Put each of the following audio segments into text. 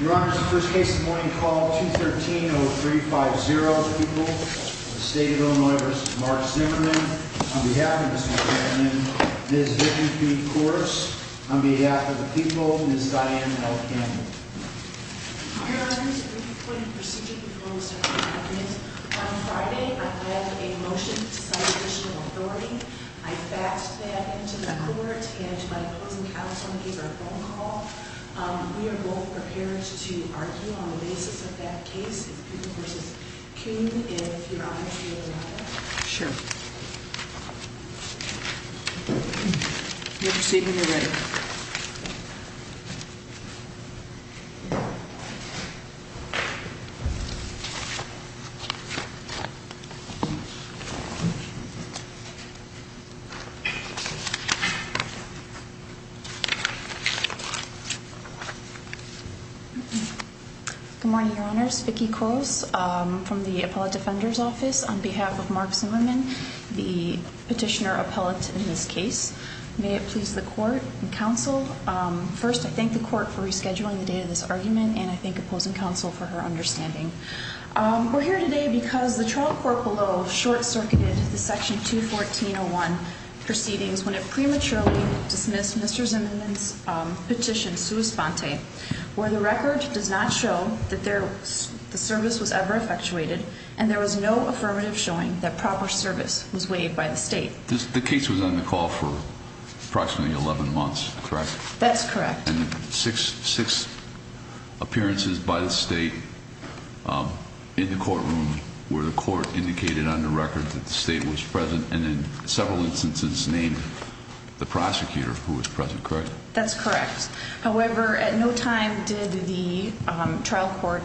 Your Honor, this is the first case of the morning call, 213-0350. The people of the state of Illinois v. Mark Zimmerman. On behalf of Mr. Zimmerman, Ms. Vicki P. Corse. On behalf of the people, Ms. Diane L. Campbell. Your Honor, this is a brief point of procedure before we start our argument. On Friday, I led a motion to cite additional authority. I faxed that into the court and my opposing counsel gave her a phone call. We are both prepared to argue on the basis of that case. Ms. Corse, can you, if you're honored to be able to allow that? Sure. You may proceed when you're ready. Thank you. Good morning, Your Honors. Vicki Corse from the Appellate Defender's Office on behalf of Mark Zimmerman, the petitioner appellate in this case. May it please the court and counsel. First, I thank the court for rescheduling the date of this argument and I thank opposing counsel for her understanding. We're here today because the trial court below short-circuited the section 214-01 proceedings when it prematurely dismissed Mr. Zimmerman's petition, sua sponte, where the record does not show that the service was ever effectuated and there was no affirmative showing that proper service was waived by the state. The case was on the call for approximately 11 months, correct? That's correct. And six appearances by the state in the courtroom where the court indicated on the record that the state was present and in several instances named the prosecutor who was present, correct? That's correct. However, at no time did the trial court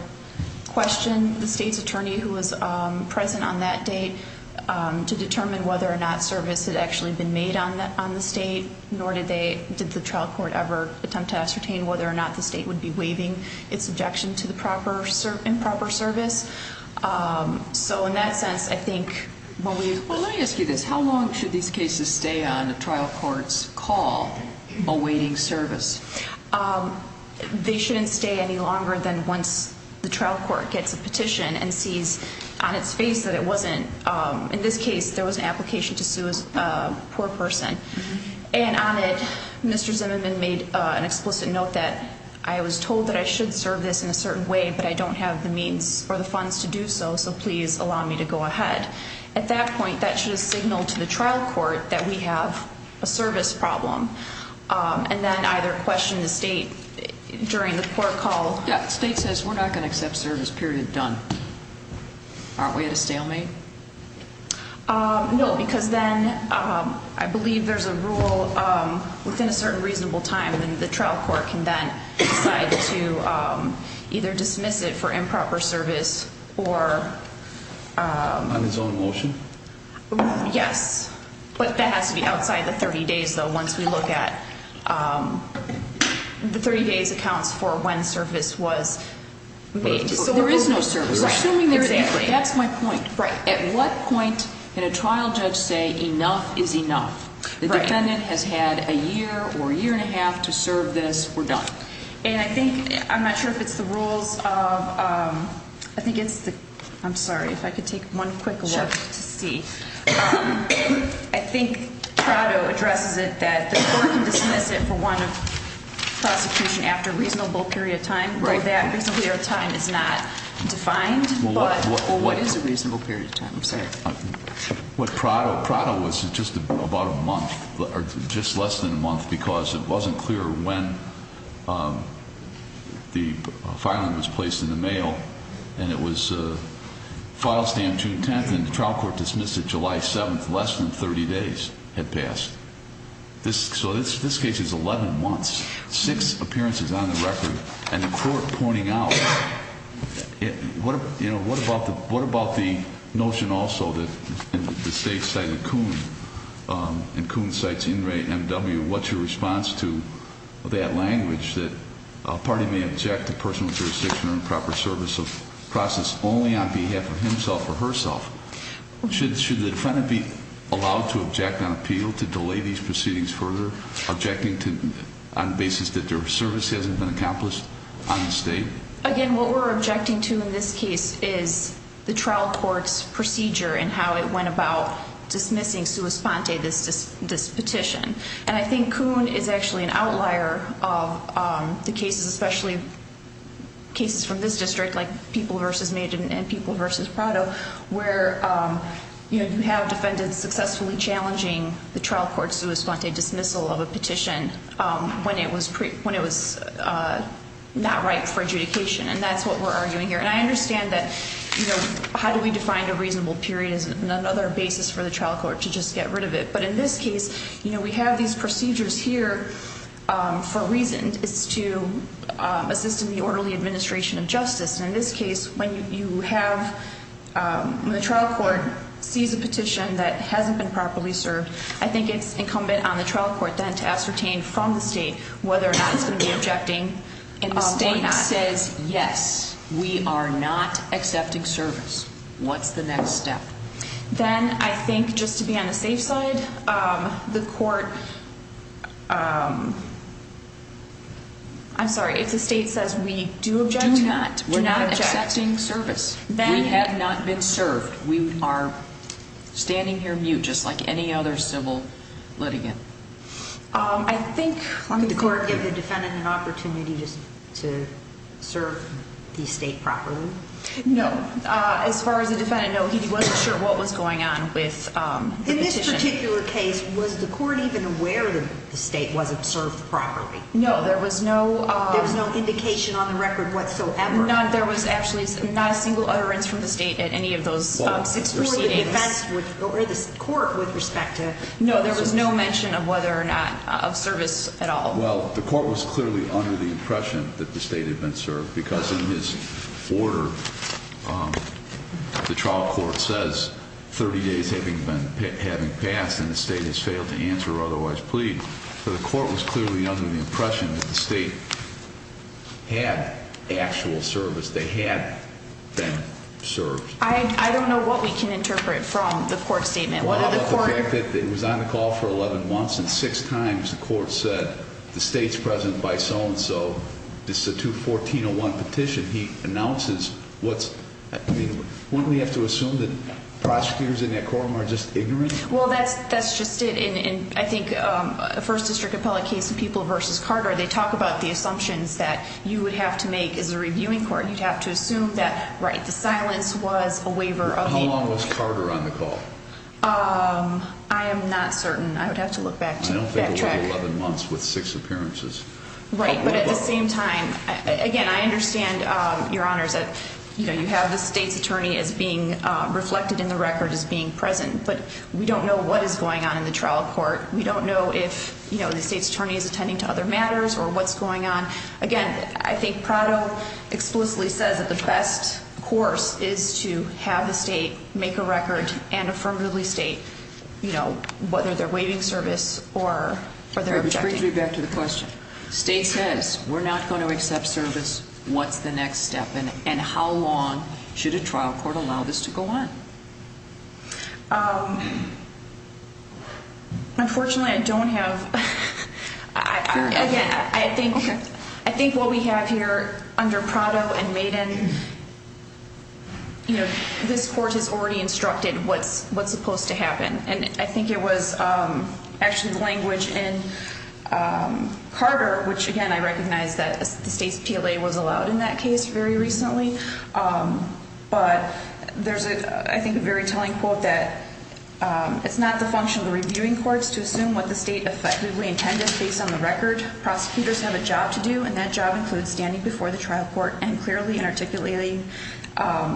question the state's attorney who was present on that date to determine whether or not service had actually been made on the state, nor did the trial court ever attempt to ascertain whether or not the state would be waiving its objection to the improper service. Well, let me ask you this. How long should these cases stay on a trial court's call awaiting service? They shouldn't stay any longer than once the trial court gets a petition and sees on its face that it wasn't, in this case, there was an application to sue a poor person. And on it, Mr. Zimmerman made an explicit note that I was told that I should serve this in a certain way, but I don't have the means or the funds to do so, so please allow me to go ahead. At that point, that should signal to the trial court that we have a service problem, and then either question the state during the court call. Yeah, the state says we're not going to accept service, period, done. Aren't we at a stalemate? No, because then I believe there's a rule within a certain reasonable time that the trial court can then decide to either dismiss it for improper service or... On its own motion? Yes, but that has to be outside the 30 days, though, once we look at the 30 days accounts for when service was made. There is no service. Right, exactly. Assuming there is, that's my point. Right. At what point can a trial judge say enough is enough? Right. The defendant has had a year or a year and a half to serve this, we're done. And I think, I'm not sure if it's the rules of, I think it's the, I'm sorry, if I could take one quick look to see. Sure. I think Prado addresses it that the court can dismiss it for one prosecution after a reasonable period of time. Right. Though that reasonable period of time is not defined, but... What Prado, Prado was just about a month, or just less than a month, because it wasn't clear when the filing was placed in the mail, and it was file stamped June 10th, and the trial court dismissed it July 7th, less than 30 days had passed. So this case is 11 months. Six appearances on the record, and the court pointing out, what about the notion also that the state cited Coon, and Coon cites Inmate M.W., what's your response to that language, that a party may object to personal jurisdiction or improper service of process only on behalf of himself or herself? Should the defendant be allowed to object on appeal to delay these proceedings further, objecting on the basis that their service hasn't been accomplished on the state? Again, what we're objecting to in this case is the trial court's procedure and how it went about dismissing sua sponte, this petition. And I think Coon is actually an outlier of the cases, especially cases from this district, like People v. Maiden and People v. Prado, where you have defendants successfully challenging the trial court's sua sponte dismissal of a petition when it was not right for adjudication, and that's what we're arguing here. And I understand that, you know, how do we define a reasonable period as another basis for the trial court to just get rid of it? But in this case, you know, we have these procedures here for a reason. It's to assist in the orderly administration of justice. And in this case, when you have the trial court seize a petition that hasn't been properly served, I think it's incumbent on the trial court then to ascertain from the state whether or not it's going to be objecting or not. And the state says, yes, we are not accepting service. What's the next step? Then I think just to be on the safe side, the court, I'm sorry, if the state says we do object to that. We're not accepting service. We have not been served. We are standing here mute just like any other civil litigant. I think the court gave the defendant an opportunity just to serve the state properly. No. As far as the defendant, no, he wasn't sure what was going on with the petition. In this particular case, was the court even aware that the state wasn't served properly? No, there was no indication on the record whatsoever. There was actually not a single utterance from the state at any of those six proceedings. Well, it's more the defense or the court with respect to service. No, there was no mention of whether or not of service at all. Well, the court was clearly under the impression that the state had been served because in his order, the trial court says 30 days having passed and the state has failed to answer or otherwise plead. So the court was clearly under the impression that the state had actual service. They had been served. I don't know what we can interpret from the court statement. It was on the call for 11 months and six times the court said the state's present by so-and-so. This is a 214-01 petition. He announces what's – wouldn't we have to assume that prosecutors in that courtroom are just ignorant? Well, that's just it. I think a first district appellate case of People v. Carter, they talk about the assumptions that you would have to make as a reviewing court. You'd have to assume that, right, the silence was a waiver of the – I am not certain. I would have to look back to that track. I don't think it would be 11 months with six appearances. Right, but at the same time, again, I understand, Your Honors, that you have the state's attorney as being reflected in the record as being present, but we don't know what is going on in the trial court. We don't know if the state's attorney is attending to other matters or what's going on. Again, I think Prado explicitly says that the best course is to have the state make a record and affirmatively state whether they're waiving service or they're objecting. Which brings me back to the question. State says we're not going to accept service. What's the next step? And how long should a trial court allow this to go on? Unfortunately, I don't have – again, I think what we have here under Prado and Maiden, this court has already instructed what's supposed to happen. And I think it was actually the language in Carter, which, again, I recognize that the state's PLA was allowed in that case very recently. But there's, I think, a very telling quote that it's not the function of the reviewing courts to assume what the state effectively intended based on the record. Prosecutors have a job to do, and that job includes standing before the trial court and clearly and articulating,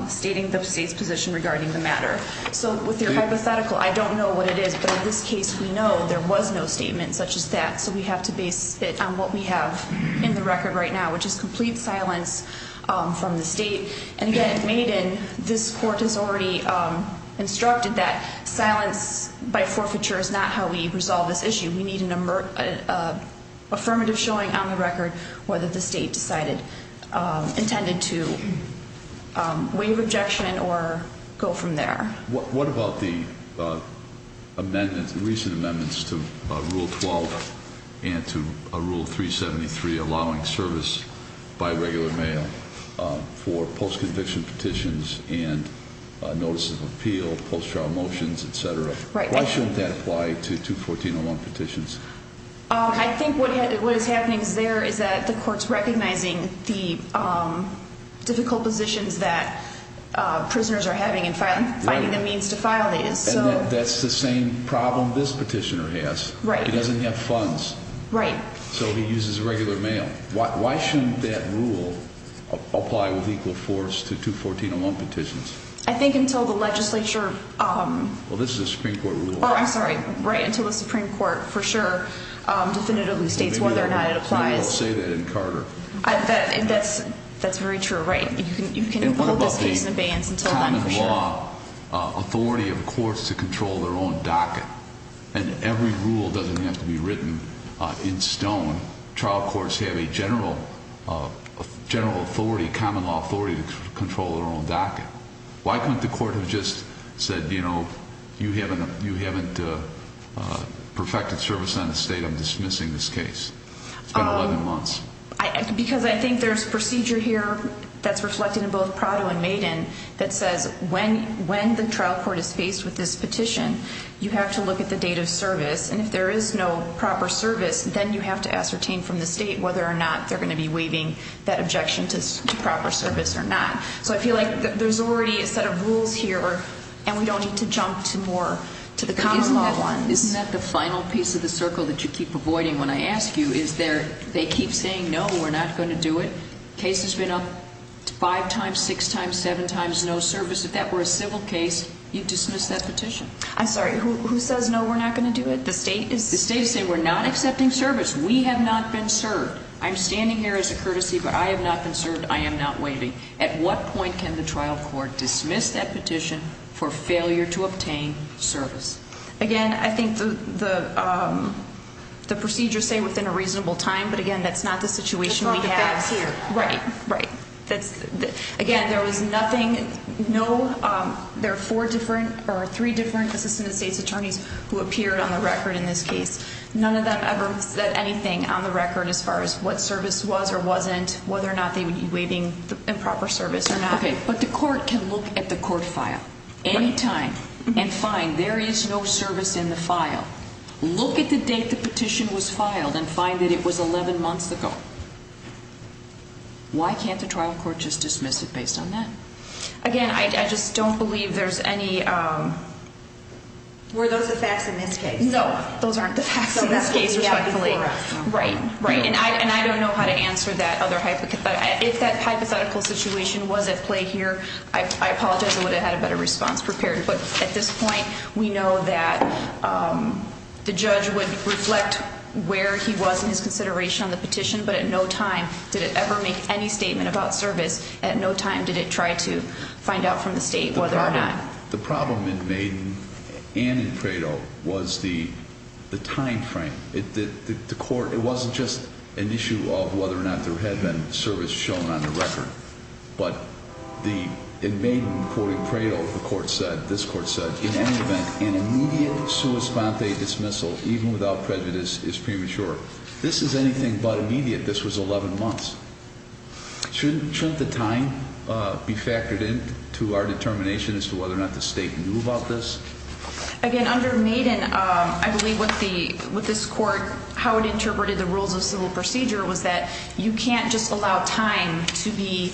stating the state's position regarding the matter. So with your hypothetical, I don't know what it is. But in this case, we know there was no statement such as that. So we have to base it on what we have in the record right now, which is complete silence from the state. And again, Maiden, this court has already instructed that silence by forfeiture is not how we resolve this issue. We need an affirmative showing on the record whether the state decided, intended to waive objection or go from there. What about the recent amendments to Rule 12 and to Rule 373, allowing service by regular mail for post-conviction petitions and notices of appeal, post-trial motions, et cetera? Why shouldn't that apply to 214.01 petitions? I think what is happening there is that the court is recognizing the difficult positions that prisoners are having in finding the means to file these. And that's the same problem this petitioner has. Right. He doesn't have funds. Right. So he uses regular mail. Why shouldn't that rule apply with equal force to 214.01 petitions? I think until the legislature— Well, this is a Supreme Court rule. Oh, I'm sorry. Right, until the Supreme Court for sure definitively states whether or not it applies. Maybe they'll say that in Carter. That's very true, right. You can hold this case in abeyance until then for sure. And what about the common law authority of courts to control their own docket? And every rule doesn't have to be written in stone. Trial courts have a general authority, common law authority to control their own docket. Why couldn't the court have just said, you know, you haven't perfected service on the state. I'm dismissing this case. It's been 11 months. Because I think there's procedure here that's reflected in both Prado and Maiden that says when the trial court is faced with this petition, you have to look at the date of service. And if there is no proper service, then you have to ascertain from the state whether or not they're going to be waiving that objection to proper service or not. So I feel like there's already a set of rules here, and we don't need to jump to more, to the common law ones. Isn't that the final piece of the circle that you keep avoiding when I ask you is they keep saying, no, we're not going to do it. Case has been up five times, six times, seven times, no service. If that were a civil case, you'd dismiss that petition. I'm sorry, who says no, we're not going to do it? The state is saying we're not accepting service. We have not been served. I'm standing here as a courtesy, but I have not been served. I am not waiving. At what point can the trial court dismiss that petition for failure to obtain service? Again, I think the procedures say within a reasonable time, but, again, that's not the situation we have here. Right, right. Again, there was nothing, no, there are four different or three different assistant state's attorneys who appeared on the record in this case. None of them ever said anything on the record as far as what service was or wasn't, whether or not they would be waiving improper service or not. Okay, but the court can look at the court file any time and find there is no service in the file. Look at the date the petition was filed and find that it was 11 months ago. Why can't the trial court just dismiss it based on that? Again, I just don't believe there's any. Were those the facts in this case? No, those aren't the facts in this case. Right, right. And I don't know how to answer that other hypothetical. If that hypothetical situation was at play here, I apologize. I would have had a better response prepared. But at this point, we know that the judge would reflect where he was in his consideration on the petition. But at no time did it ever make any statement about service. At no time did it try to find out from the state whether or not. The problem in Maiden and in Prado was the time frame. The court, it wasn't just an issue of whether or not there had been service shown on the record. But in Maiden, according to Prado, the court said, this court said, in any event, an immediate sua sponte dismissal, even without prejudice, is premature. This is anything but immediate. This was 11 months. Shouldn't the time be factored in to our determination as to whether or not the state knew about this? Again, under Maiden, I believe with this court, how it interpreted the rules of civil procedure was that you can't just allow time to be,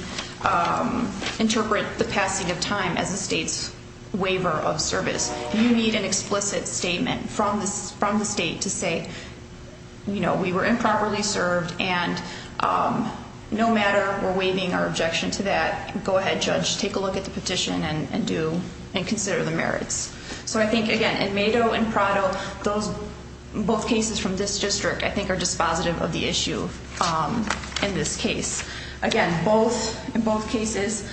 interpret the passing of time as the state's waiver of service. You need an explicit statement from the state to say, you know, we were improperly served. And no matter, we're waiving our objection to that. Go ahead, judge. Take a look at the petition and do, and consider the merits. So I think, again, in Mado and Prado, those, both cases from this district, I think are dispositive of the issue in this case. Again, both, in both cases,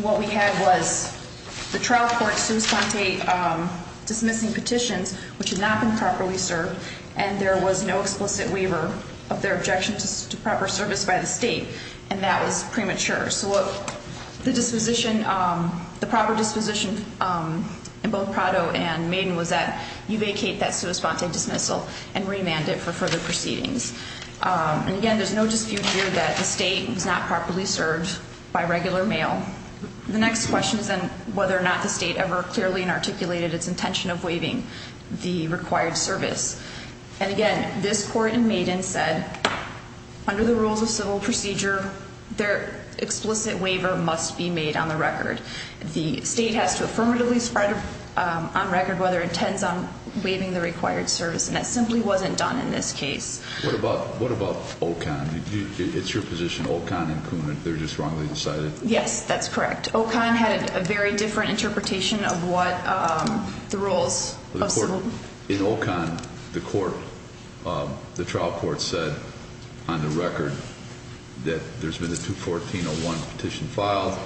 what we had was the trial court sua sponte dismissing petitions, which had not been properly served, and there was no explicit waiver of their objection to proper service by the state. And that was premature. So what the disposition, the proper disposition in both Prado and Maiden was that you vacate that sua sponte dismissal and remand it for further proceedings. And again, there's no dispute here that the state was not properly served by regular mail. The next question is then whether or not the state ever clearly articulated its intention of waiving the required service. And again, this court in Maiden said, under the rules of civil procedure, their explicit waiver must be made on the record. The state has to affirmatively spread on record whether it intends on waiving the required service. And that simply wasn't done in this case. What about, what about Ocon? It's your position, Ocon and Koonin, they're just wrongly decided? Yes, that's correct. Ocon had a very different interpretation of what the rules of civil. In Ocon, the court, the trial court said on the record that there's been a 214-01 petition filed.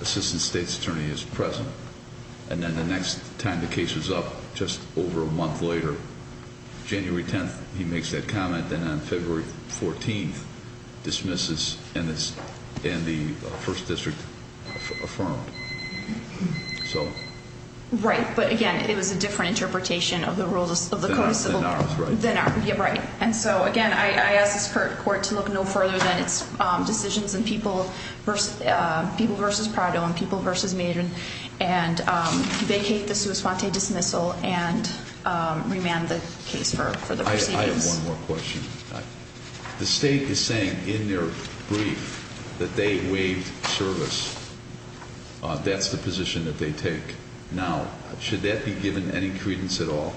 Assistant State's Attorney is present. And then the next time the case was up, just over a month later, January 10th, he makes that comment. Then on February 14th, dismisses and the first district affirmed. So. Right, but again, it was a different interpretation of the rules of the code of civil. Than ours, right? Yeah, right. And so again, I ask this court to look no further than its decisions in people versus Prado and people versus Maiden and vacate the sua sponte dismissal and remand the case for the proceedings. I have one more question. The state is saying in their brief that they waived service. That's the position that they take now. Should that be given any credence at all?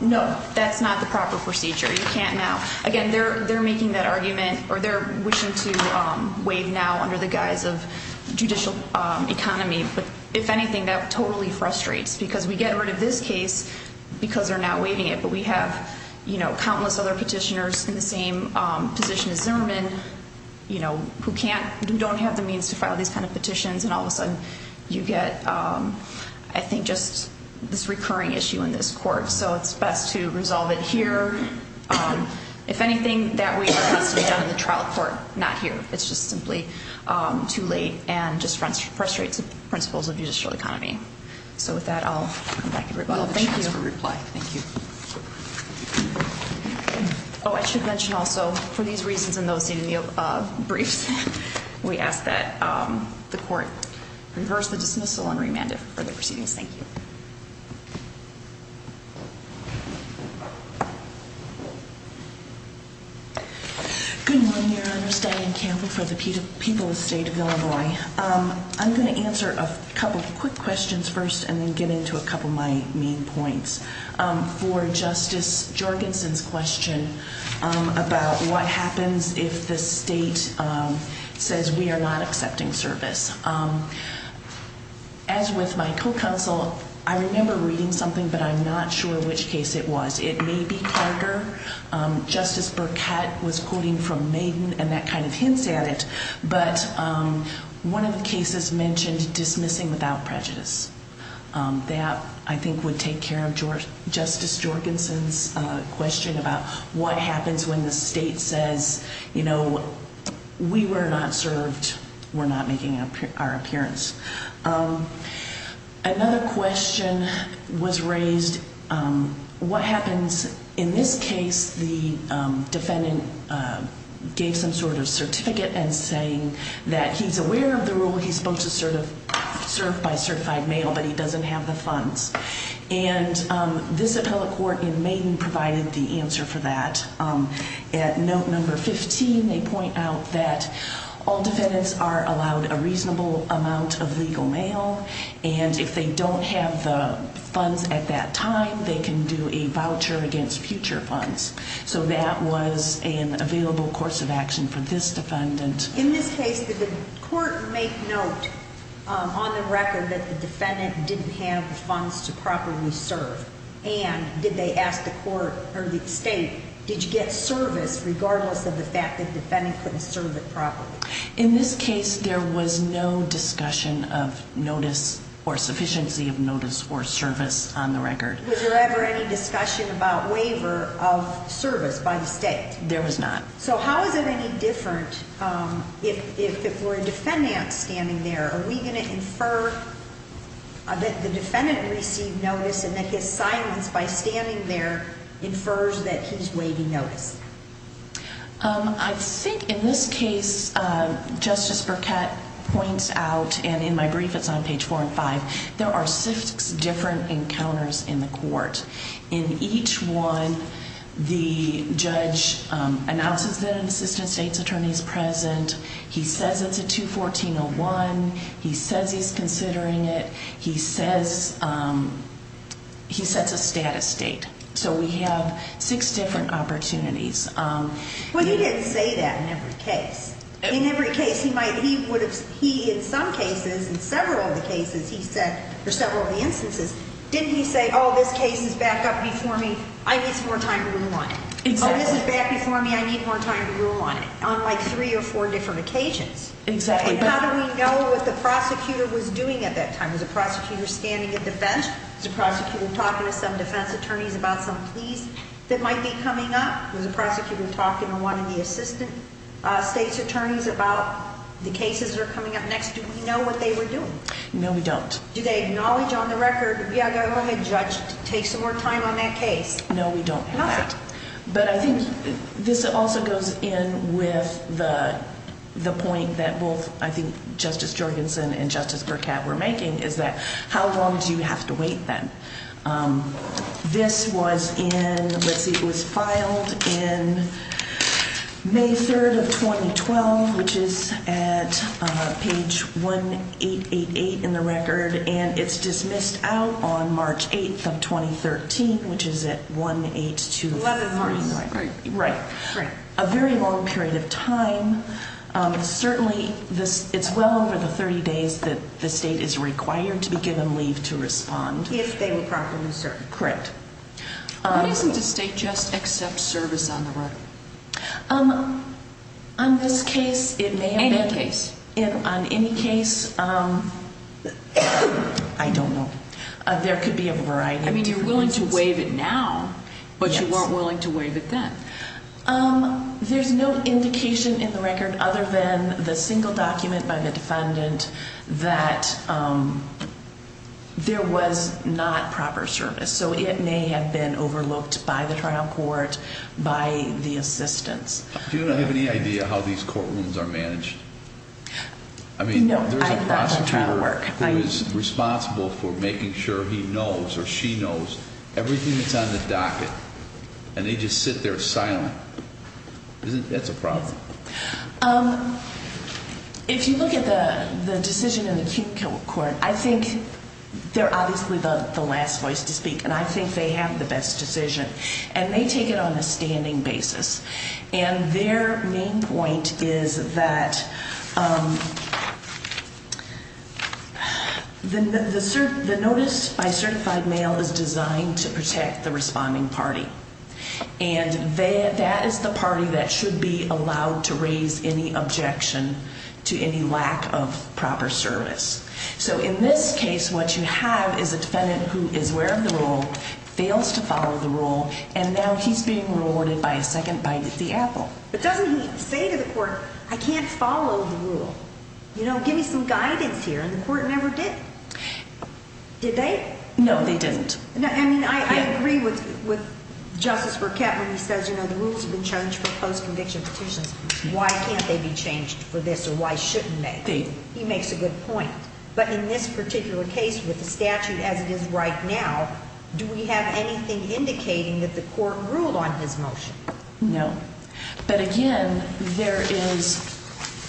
No, that's not the proper procedure. You can't now. Again, they're making that argument or they're wishing to waive now under the guise of judicial economy. But if anything, that totally frustrates because we get rid of this case because they're not waiving it. But we have, you know, countless other petitioners in the same position as Zimmerman, you know, who can't don't have the means to file these kind of petitions. And all of a sudden you get, I think, just this recurring issue in this court. So it's best to resolve it here. If anything that we have to be done in the trial court, not here. It's just simply too late and just frustrates the principles of judicial economy. So with that, I'll come back and rebuttal. Thank you for reply. Thank you. Oh, I should mention also for these reasons in those briefs, we ask that the court reverse the dismissal and remand it for the proceedings. Thank you. Good morning, Your Honor. Diane Campbell for the people of the state of Illinois. I'm going to answer a couple of quick questions first and then get into a couple of my main points. For Justice Jorgensen's question about what happens if the state says we are not accepting service. As with my co-counsel, I remember reading something, but I'm not sure which case it was. It may be Carter. Justice Burkett was quoting from Maiden and that kind of hints at it. But one of the cases mentioned dismissing without prejudice. That, I think, would take care of Justice Jorgensen's question about what happens when the state says, you know, we were not served. We're not making our appearance. Another question was raised, what happens in this case, the defendant gave some sort of certificate and saying that he's aware of the rule. He's supposed to serve by certified mail, but he doesn't have the funds. And this appellate court in Maiden provided the answer for that. At note number 15, they point out that all defendants are allowed a reasonable amount of legal mail. And if they don't have the funds at that time, they can do a voucher against future funds. So that was an available course of action for this defendant. In this case, did the court make note on the record that the defendant didn't have the funds to properly serve? And did they ask the court or the state, did you get service regardless of the fact that the defendant couldn't serve it properly? In this case, there was no discussion of notice or sufficiency of notice or service on the record. Was there ever any discussion about waiver of service by the state? There was not. So how is it any different if we're a defendant standing there? Are we going to infer that the defendant received notice and that his silence by standing there infers that he's waiving notice? I think in this case, Justice Burkett points out, and in my brief, it's on page four and five, there are six different encounters in the court. In each one, the judge announces that an assistant state's attorney is present. He says it's a 214-01. He says he's considering it. He says he sets a status date. So we have six different opportunities. Well, he didn't say that in every case. In every case, he might have, he would have, he in some cases, in several of the cases, he said, for several of the instances, didn't he say, oh, this case is back up before me, I need some more time to rule on it? Exactly. Oh, this is back before me, I need more time to rule on it, on like three or four different occasions. Exactly. And how do we know what the prosecutor was doing at that time? Was the prosecutor standing at the bench? Was the prosecutor talking to some defense attorneys about some pleas that might be coming up? Was the prosecutor talking to one of the assistant state's attorneys about the cases that are coming up next? Do we know what they were doing? No, we don't. Do they acknowledge on the record, yeah, go ahead, judge, take some more time on that case? No, we don't have that. But I think this also goes in with the point that both, I think, Justice Jorgensen and Justice Burkett were making, is that how long do you have to wait then? This was in, let's see, it was filed in May 3rd of 2012, which is at page 1888 in the record, and it's dismissed out on March 8th of 2013, which is at 18239. 11 March, right. Right. Right. A very long period of time. Certainly, it's well over the 30 days that the state is required to be given leave to respond. If they were properly served. Correct. Why doesn't the state just accept service on the record? On this case, it may have been. Any case. On any case, I don't know. There could be a variety of different reasons. I mean, you're willing to waive it now, but you weren't willing to waive it then. There's no indication in the record, other than the single document by the defendant, that there was not proper service. So, it may have been overlooked by the trial court, by the assistants. Do you have any idea how these courtrooms are managed? I mean, there's a prosecutor who is responsible for making sure he knows or she knows everything that's on the docket, and they just sit there silent. That's a problem. If you look at the decision in the acute court, I think they're obviously the last voice to speak, and I think they have the best decision. And they take it on a standing basis. And their main point is that the notice by certified mail is designed to protect the responding party, and that is the party that should be allowed to raise any objection to any lack of proper service. So, in this case, what you have is a defendant who is aware of the rule, fails to follow the rule, and now he's being rewarded by a second bite at the apple. But doesn't he say to the court, I can't follow the rule. You know, give me some guidance here, and the court never did. Did they? No, they didn't. I mean, I agree with Justice Burkett when he says, you know, the rules have been changed for post-conviction petitions. Why can't they be changed for this, or why shouldn't they? He makes a good point. But in this particular case, with the statute as it is right now, do we have anything indicating that the court ruled on his motion? No. But, again, there is ñ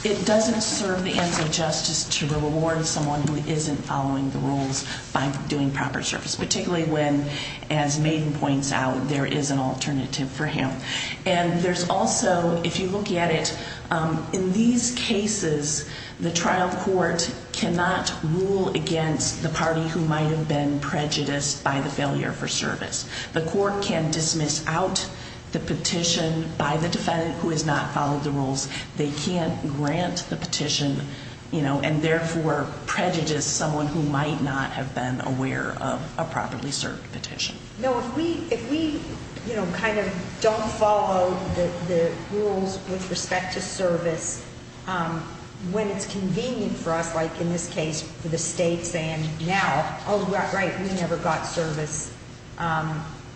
it doesn't serve the ends of justice to reward someone who isn't following the rules by doing proper service, particularly when, as Maiden points out, there is an alternative for him. And there's also, if you look at it, in these cases, the trial court cannot rule against the party who might have been prejudiced by the failure for service. The court can dismiss out the petition by the defendant who has not followed the rules. They can't grant the petition, you know, and therefore prejudice someone who might not have been aware of a properly served petition. No, if we, you know, kind of don't follow the rules with respect to service when it's convenient for us, like in this case for the state saying now, oh, right, we never got service, but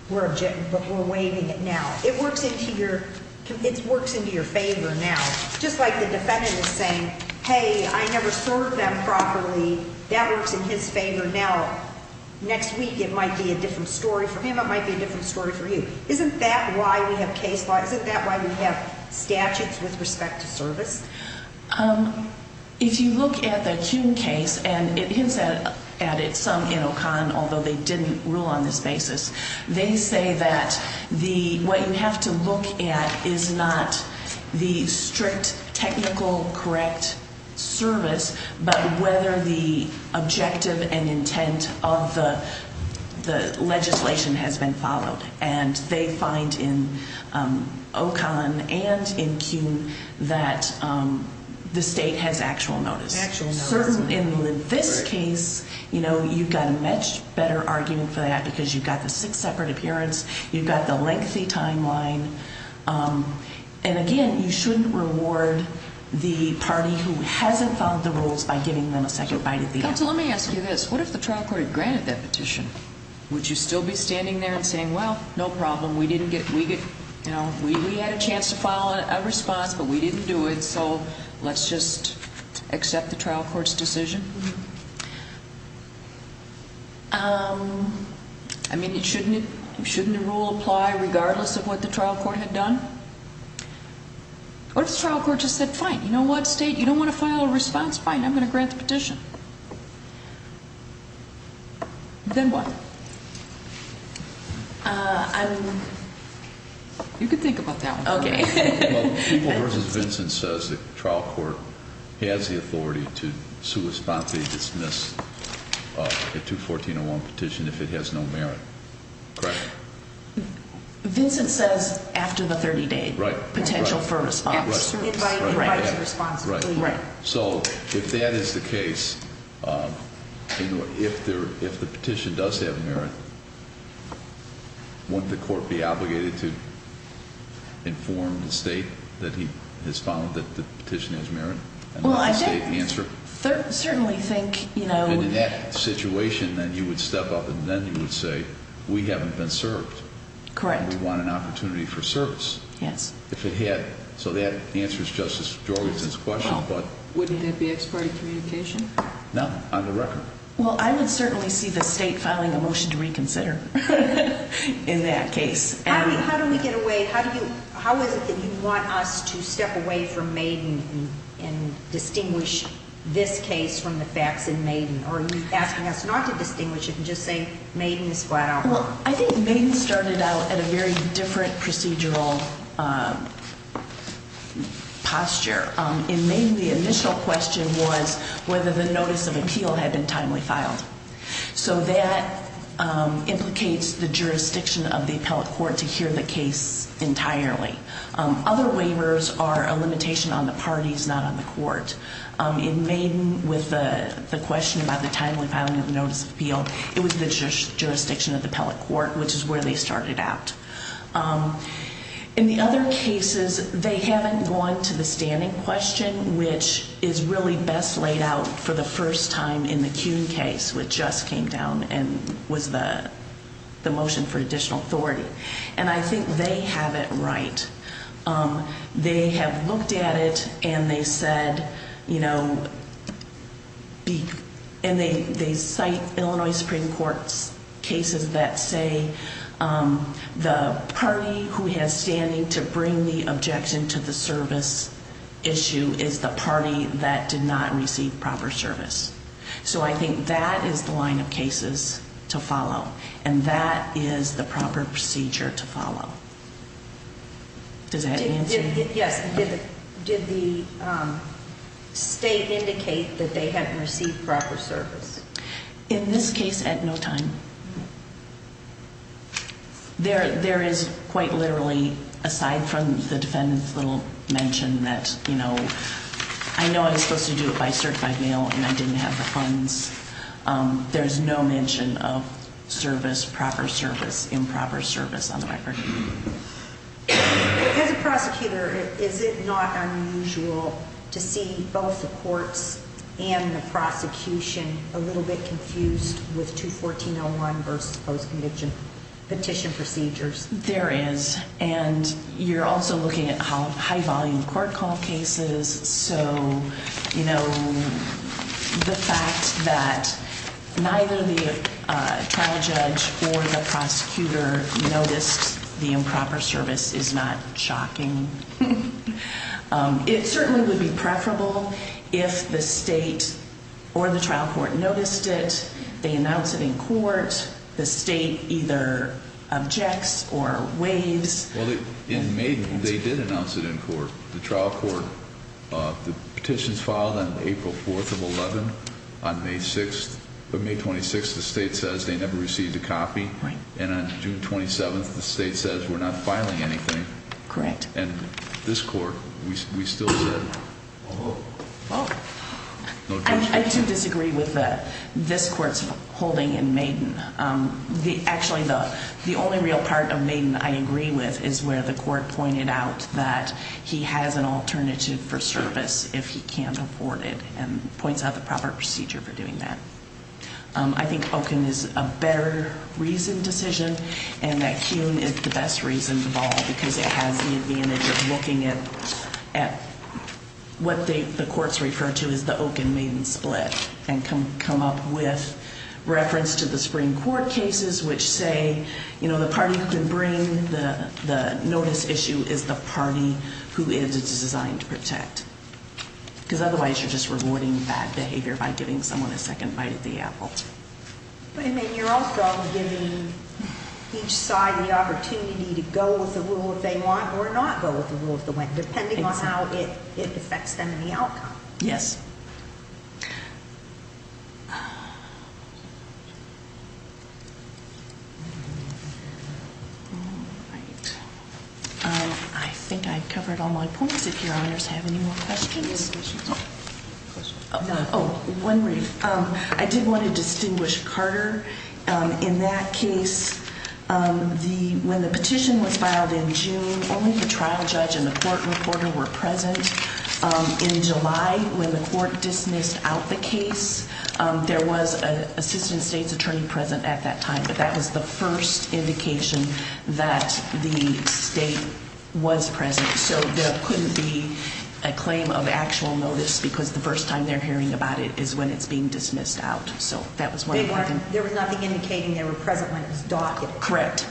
we're waiving it now, it works into your favor now. Just like the defendant is saying, hey, I never served them properly, that works in his favor now. Next week it might be a different story for him, it might be a different story for you. Isn't that why we have case laws? Isn't that why we have statutes with respect to service? If you look at the Kuhn case, and it hints at it some in O'Conn, although they didn't rule on this basis, they say that what you have to look at is not the strict technical correct service, but whether the objective and intent of the legislation has been followed. And they find in O'Conn and in Kuhn that the state has actual notice. In this case, you know, you've got a much better argument for that because you've got the six separate appearance, you've got the lengthy timeline, and again, you shouldn't reward the party who hasn't followed the rules by giving them a second bite at the eye. Counsel, let me ask you this. What if the trial court had granted that petition? Would you still be standing there and saying, well, no problem, we had a chance to file a response, but we didn't do it, so let's just accept the trial court's decision? I mean, shouldn't the rule apply regardless of what the trial court had done? What if the trial court just said, fine, you know what, state, you don't want to file a response? Fine, I'm going to grant the petition. Then what? I don't know. You can think about that one. Okay. Well, people versus Vincent says the trial court has the authority to sui sponte dismiss a 214.01 petition if it has no merit. Correct? Vincent says after the 30-day potential for response. Invite to response. Right. So if that is the case, you know, if the petition does have merit, wouldn't the court be obligated to inform the state that he has found that the petition has merit? Well, I certainly think, you know. And in that situation, then you would step up and then you would say, we haven't been served. Correct. And we want an opportunity for service. Yes. If it had. So that answers Justice Jorgensen's question. Wouldn't that be ex parte communication? No, on the record. Well, I would certainly see the state filing a motion to reconsider in that case. How do we get away? How is it that you want us to step away from Maiden and distinguish this case from the facts in Maiden? Or are you asking us not to distinguish it and just say Maiden is flat out wrong? Well, I think Maiden started out at a very different procedural posture. In Maiden, the initial question was whether the notice of appeal had been timely filed. So that implicates the jurisdiction of the appellate court to hear the case entirely. Other waivers are a limitation on the parties, not on the court. In Maiden, with the question about the timely filing of the notice of appeal, it was the jurisdiction of the appellate court, which is where they started out. In the other cases, they haven't gone to the standing question, which is really best laid out for the first time in the Kuhn case, which just came down and was the motion for additional authority. And I think they have it right. They have looked at it and they cite Illinois Supreme Court cases that say the party who has standing to bring the objection to the service issue is the party that did not receive proper service. So I think that is the line of cases to follow. And that is the proper procedure to follow. Does that answer? Yes. Did the state indicate that they haven't received proper service? In this case, at no time. There is quite literally, aside from the defendant's little mention that, you know, I know I was supposed to do it by certified mail and I didn't have the funds. There is no mention of service, proper service, improper service on the record. As a prosecutor, is it not unusual to see both the courts and the prosecution a little bit confused with 214-01 versus post-conviction petition procedures? There is. And you're also looking at high volume court call cases. So, you know, the fact that neither the trial judge or the prosecutor noticed the improper service is not shocking. It certainly would be preferable if the state or the trial court noticed it. They announce it in court. The state either objects or waives. Well, in May, they did announce it in court. The trial court, the petitions filed on April 4th of 11, on May 6th. On May 26th, the state says they never received a copy. Right. And on June 27th, the state says we're not filing anything. Correct. And this court, we still said no petitions. I do disagree with this court's holding in Maiden. Actually, the only real part of Maiden I agree with is where the court pointed out that he has an alternative for service if he can't afford it and points out the proper procedure for doing that. I think Okun is a better reasoned decision and that Kuhn is the best reason of all because it has the advantage of looking at what the courts refer to as the Okun-Maiden split and come up with reference to the Supreme Court cases which say, you know, the party who can bring the notice issue is the party who it is designed to protect. Because otherwise you're just rewarding bad behavior by giving someone a second bite at the apple. But I mean, you're also giving each side the opportunity to go with the rule if they want or not go with the rule if they want, depending on how it affects them and the outcome. Yes. I think I covered all my points. If your honors have any more questions. Oh, one brief. I did want to distinguish Carter. In that case, when the petition was filed in June, only the trial judge and the court reporter were present. In July, when the court dismissed out the case, there was an assistant state's attorney present at that time. But that was the first indication that the state was present. So there couldn't be a claim of actual notice because the first time they're hearing about it is when it's being dismissed out. So that was one of them. There was nothing indicating they were present when it was docked. Correct.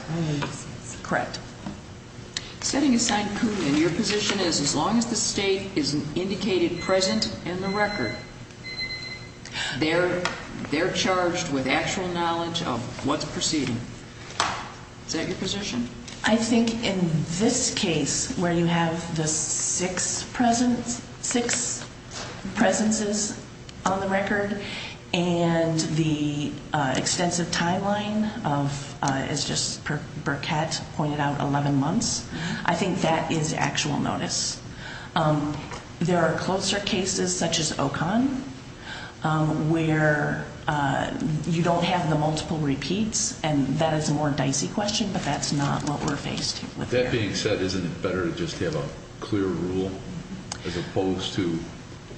Correct. Setting aside Putin, your position is as long as the state is indicated present in the record, they're charged with actual knowledge of what's proceeding. Is that your position? I think in this case, where you have the six presences on the record and the extensive timeline of, as just Burkett pointed out, 11 months, I think that is actual notice. There are closer cases such as Ocon where you don't have the multiple repeats, and that is a more dicey question, but that's not what we're faced with here. That being said, isn't it better to just have a clear rule as opposed to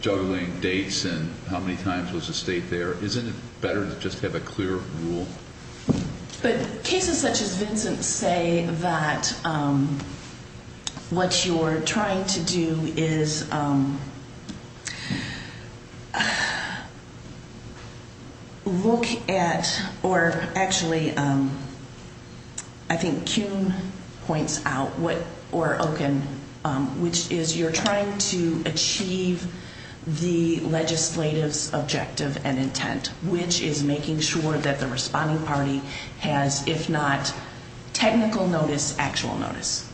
juggling dates and how many times was the state there? Isn't it better to just have a clear rule? But cases such as Vincent say that what you're trying to do is look at or actually I think Kuhn points out or Ocon, which is you're trying to achieve the legislative's objective and intent, which is making sure that the responding party has, if not technical notice, actual notice.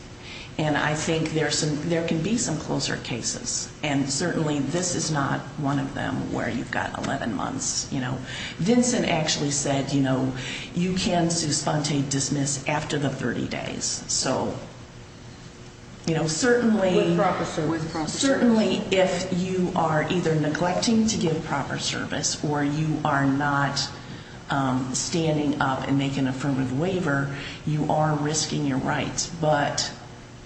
And I think there can be some closer cases, and certainly this is not one of them where you've got 11 months. Vincent actually said, you can su sponte dismiss after the 30 days. So certainly if you are either neglecting to give proper service or you are not standing up and making affirmative waiver, you are risking your rights. But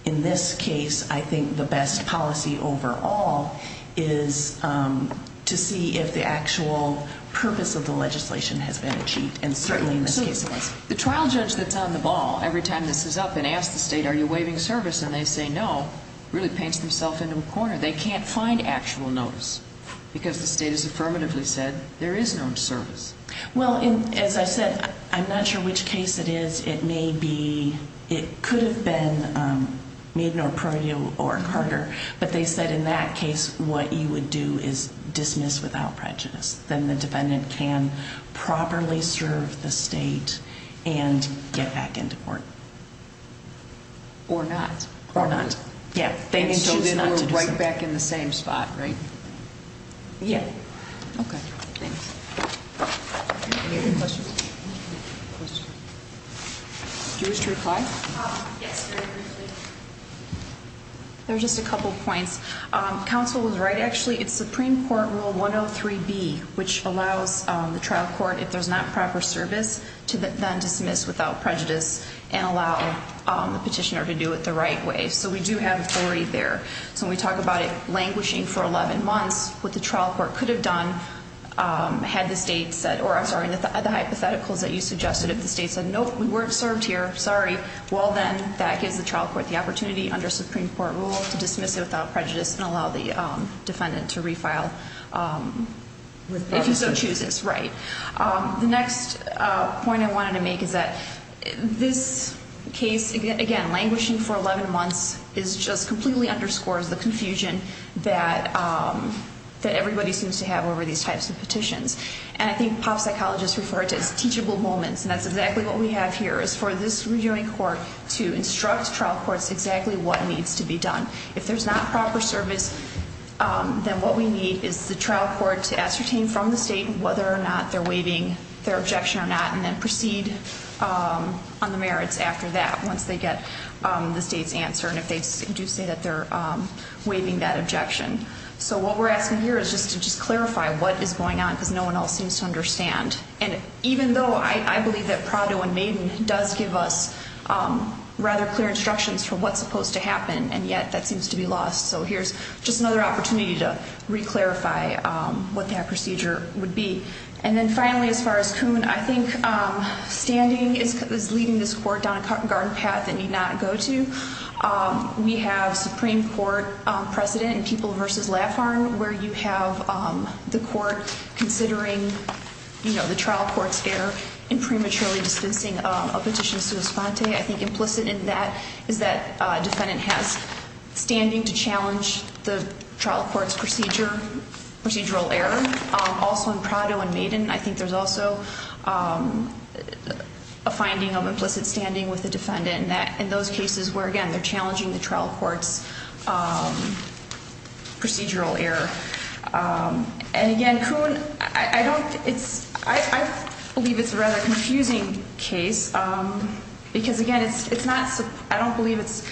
in this case, I think the best policy overall is to see if the actual purpose of the legislation has been achieved, and certainly in this case it was. The trial judge that's on the ball every time this is up and asks the state, are you waiving service? And they say no, really paints themselves into a corner. They can't find actual notice because the state has affirmatively said there is no service. Well, as I said, I'm not sure which case it is. It may be. It could have been. We have no prior deal or Carter, but they said in that case, what you would do is dismiss without prejudice. Then the defendant can properly serve the state and get back into court. Or not. Or not. Yeah. Right back in the same spot. Right. Yeah. OK. Thanks. Any other questions? Do you wish to reply? Yes, very briefly. There's just a couple points. Counsel was right, actually. It's Supreme Court Rule 103B, which allows the trial court, if there's not proper service, to then dismiss without prejudice and allow the petitioner to do it the right way. So we do have authority there. So when we talk about it languishing for 11 months, what the trial court could have done had the hypotheticals that you suggested, if the state said, nope, we weren't served here, sorry. Well, then that gives the trial court the opportunity under Supreme Court Rule to dismiss it without prejudice and allow the defendant to refile. If he so chooses. Right. The next point I wanted to make is that this case, again, languishing for 11 months just completely underscores the confusion that everybody seems to have over these types of petitions. And I think pop psychologists refer to it as teachable moments. And that's exactly what we have here, is for this rejoining court to instruct trial courts exactly what needs to be done. If there's not proper service, then what we need is the trial court to ascertain from the state whether or not they're waiving their objection or not, and then proceed on the merits after that, once they get the state's answer. And if they do say that they're waiving that objection. So what we're asking here is just to clarify what is going on, because no one else seems to understand. And even though I believe that Prado and Maiden does give us rather clear instructions for what's supposed to happen, and yet that seems to be lost. So here's just another opportunity to re-clarify what that procedure would be. And then finally, as far as Coon, I think standing is leading this court down a garden path it need not go to. We have Supreme Court precedent in People v. Laffarne, where you have the court considering the trial court's error in prematurely dispensing a petition sui sponte. I think implicit in that is that a defendant has standing to challenge the trial court's procedural error. In Coon, also in Prado and Maiden, I think there's also a finding of implicit standing with the defendant in those cases where, again, they're challenging the trial court's procedural error. And again, Coon, I believe it's a rather confusing case, because again, I don't believe, as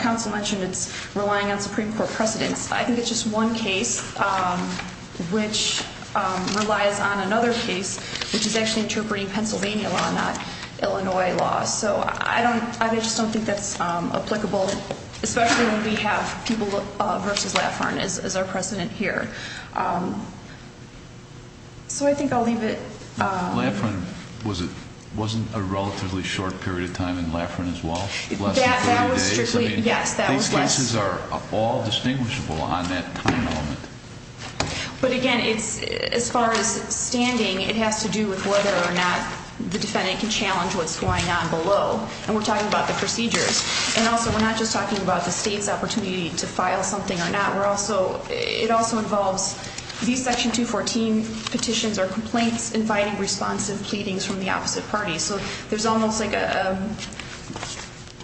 counsel mentioned, it's relying on Supreme Court precedence. I think it's just one case which relies on another case, which is actually interpreting Pennsylvania law, not Illinois law. So I just don't think that's applicable, especially when we have People v. Laffarne as our precedent here. So I think I'll leave it. Laffarne wasn't a relatively short period of time in Laffarne as well? That was strictly, yes. These cases are all distinguishable on that time element. But again, as far as standing, it has to do with whether or not the defendant can challenge what's going on below. And we're talking about the procedures. And also, we're not just talking about the state's opportunity to file something or not. It also involves these Section 214 petitions are complaints inviting responsive pleadings from the opposite party. So there's almost like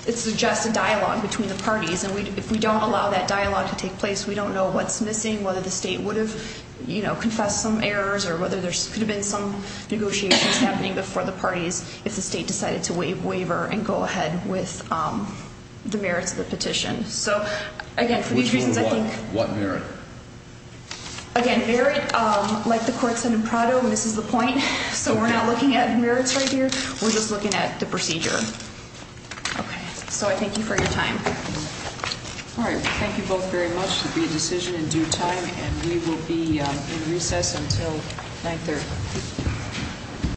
it's just a dialogue between the parties. And if we don't allow that dialogue to take place, we don't know what's missing, whether the state would have confessed some errors, or whether there could have been some negotiations happening before the parties if the state decided to waiver and go ahead with the merits of the petition. So again, for these reasons, I think – Which were what? What merit? Again, merit, like the court said in Prado, misses the point. So we're not looking at merits right here. We're just looking at the procedure. Okay. So I thank you for your time. All right. Thank you both very much. It will be a decision in due time. And we will be in recess until 930.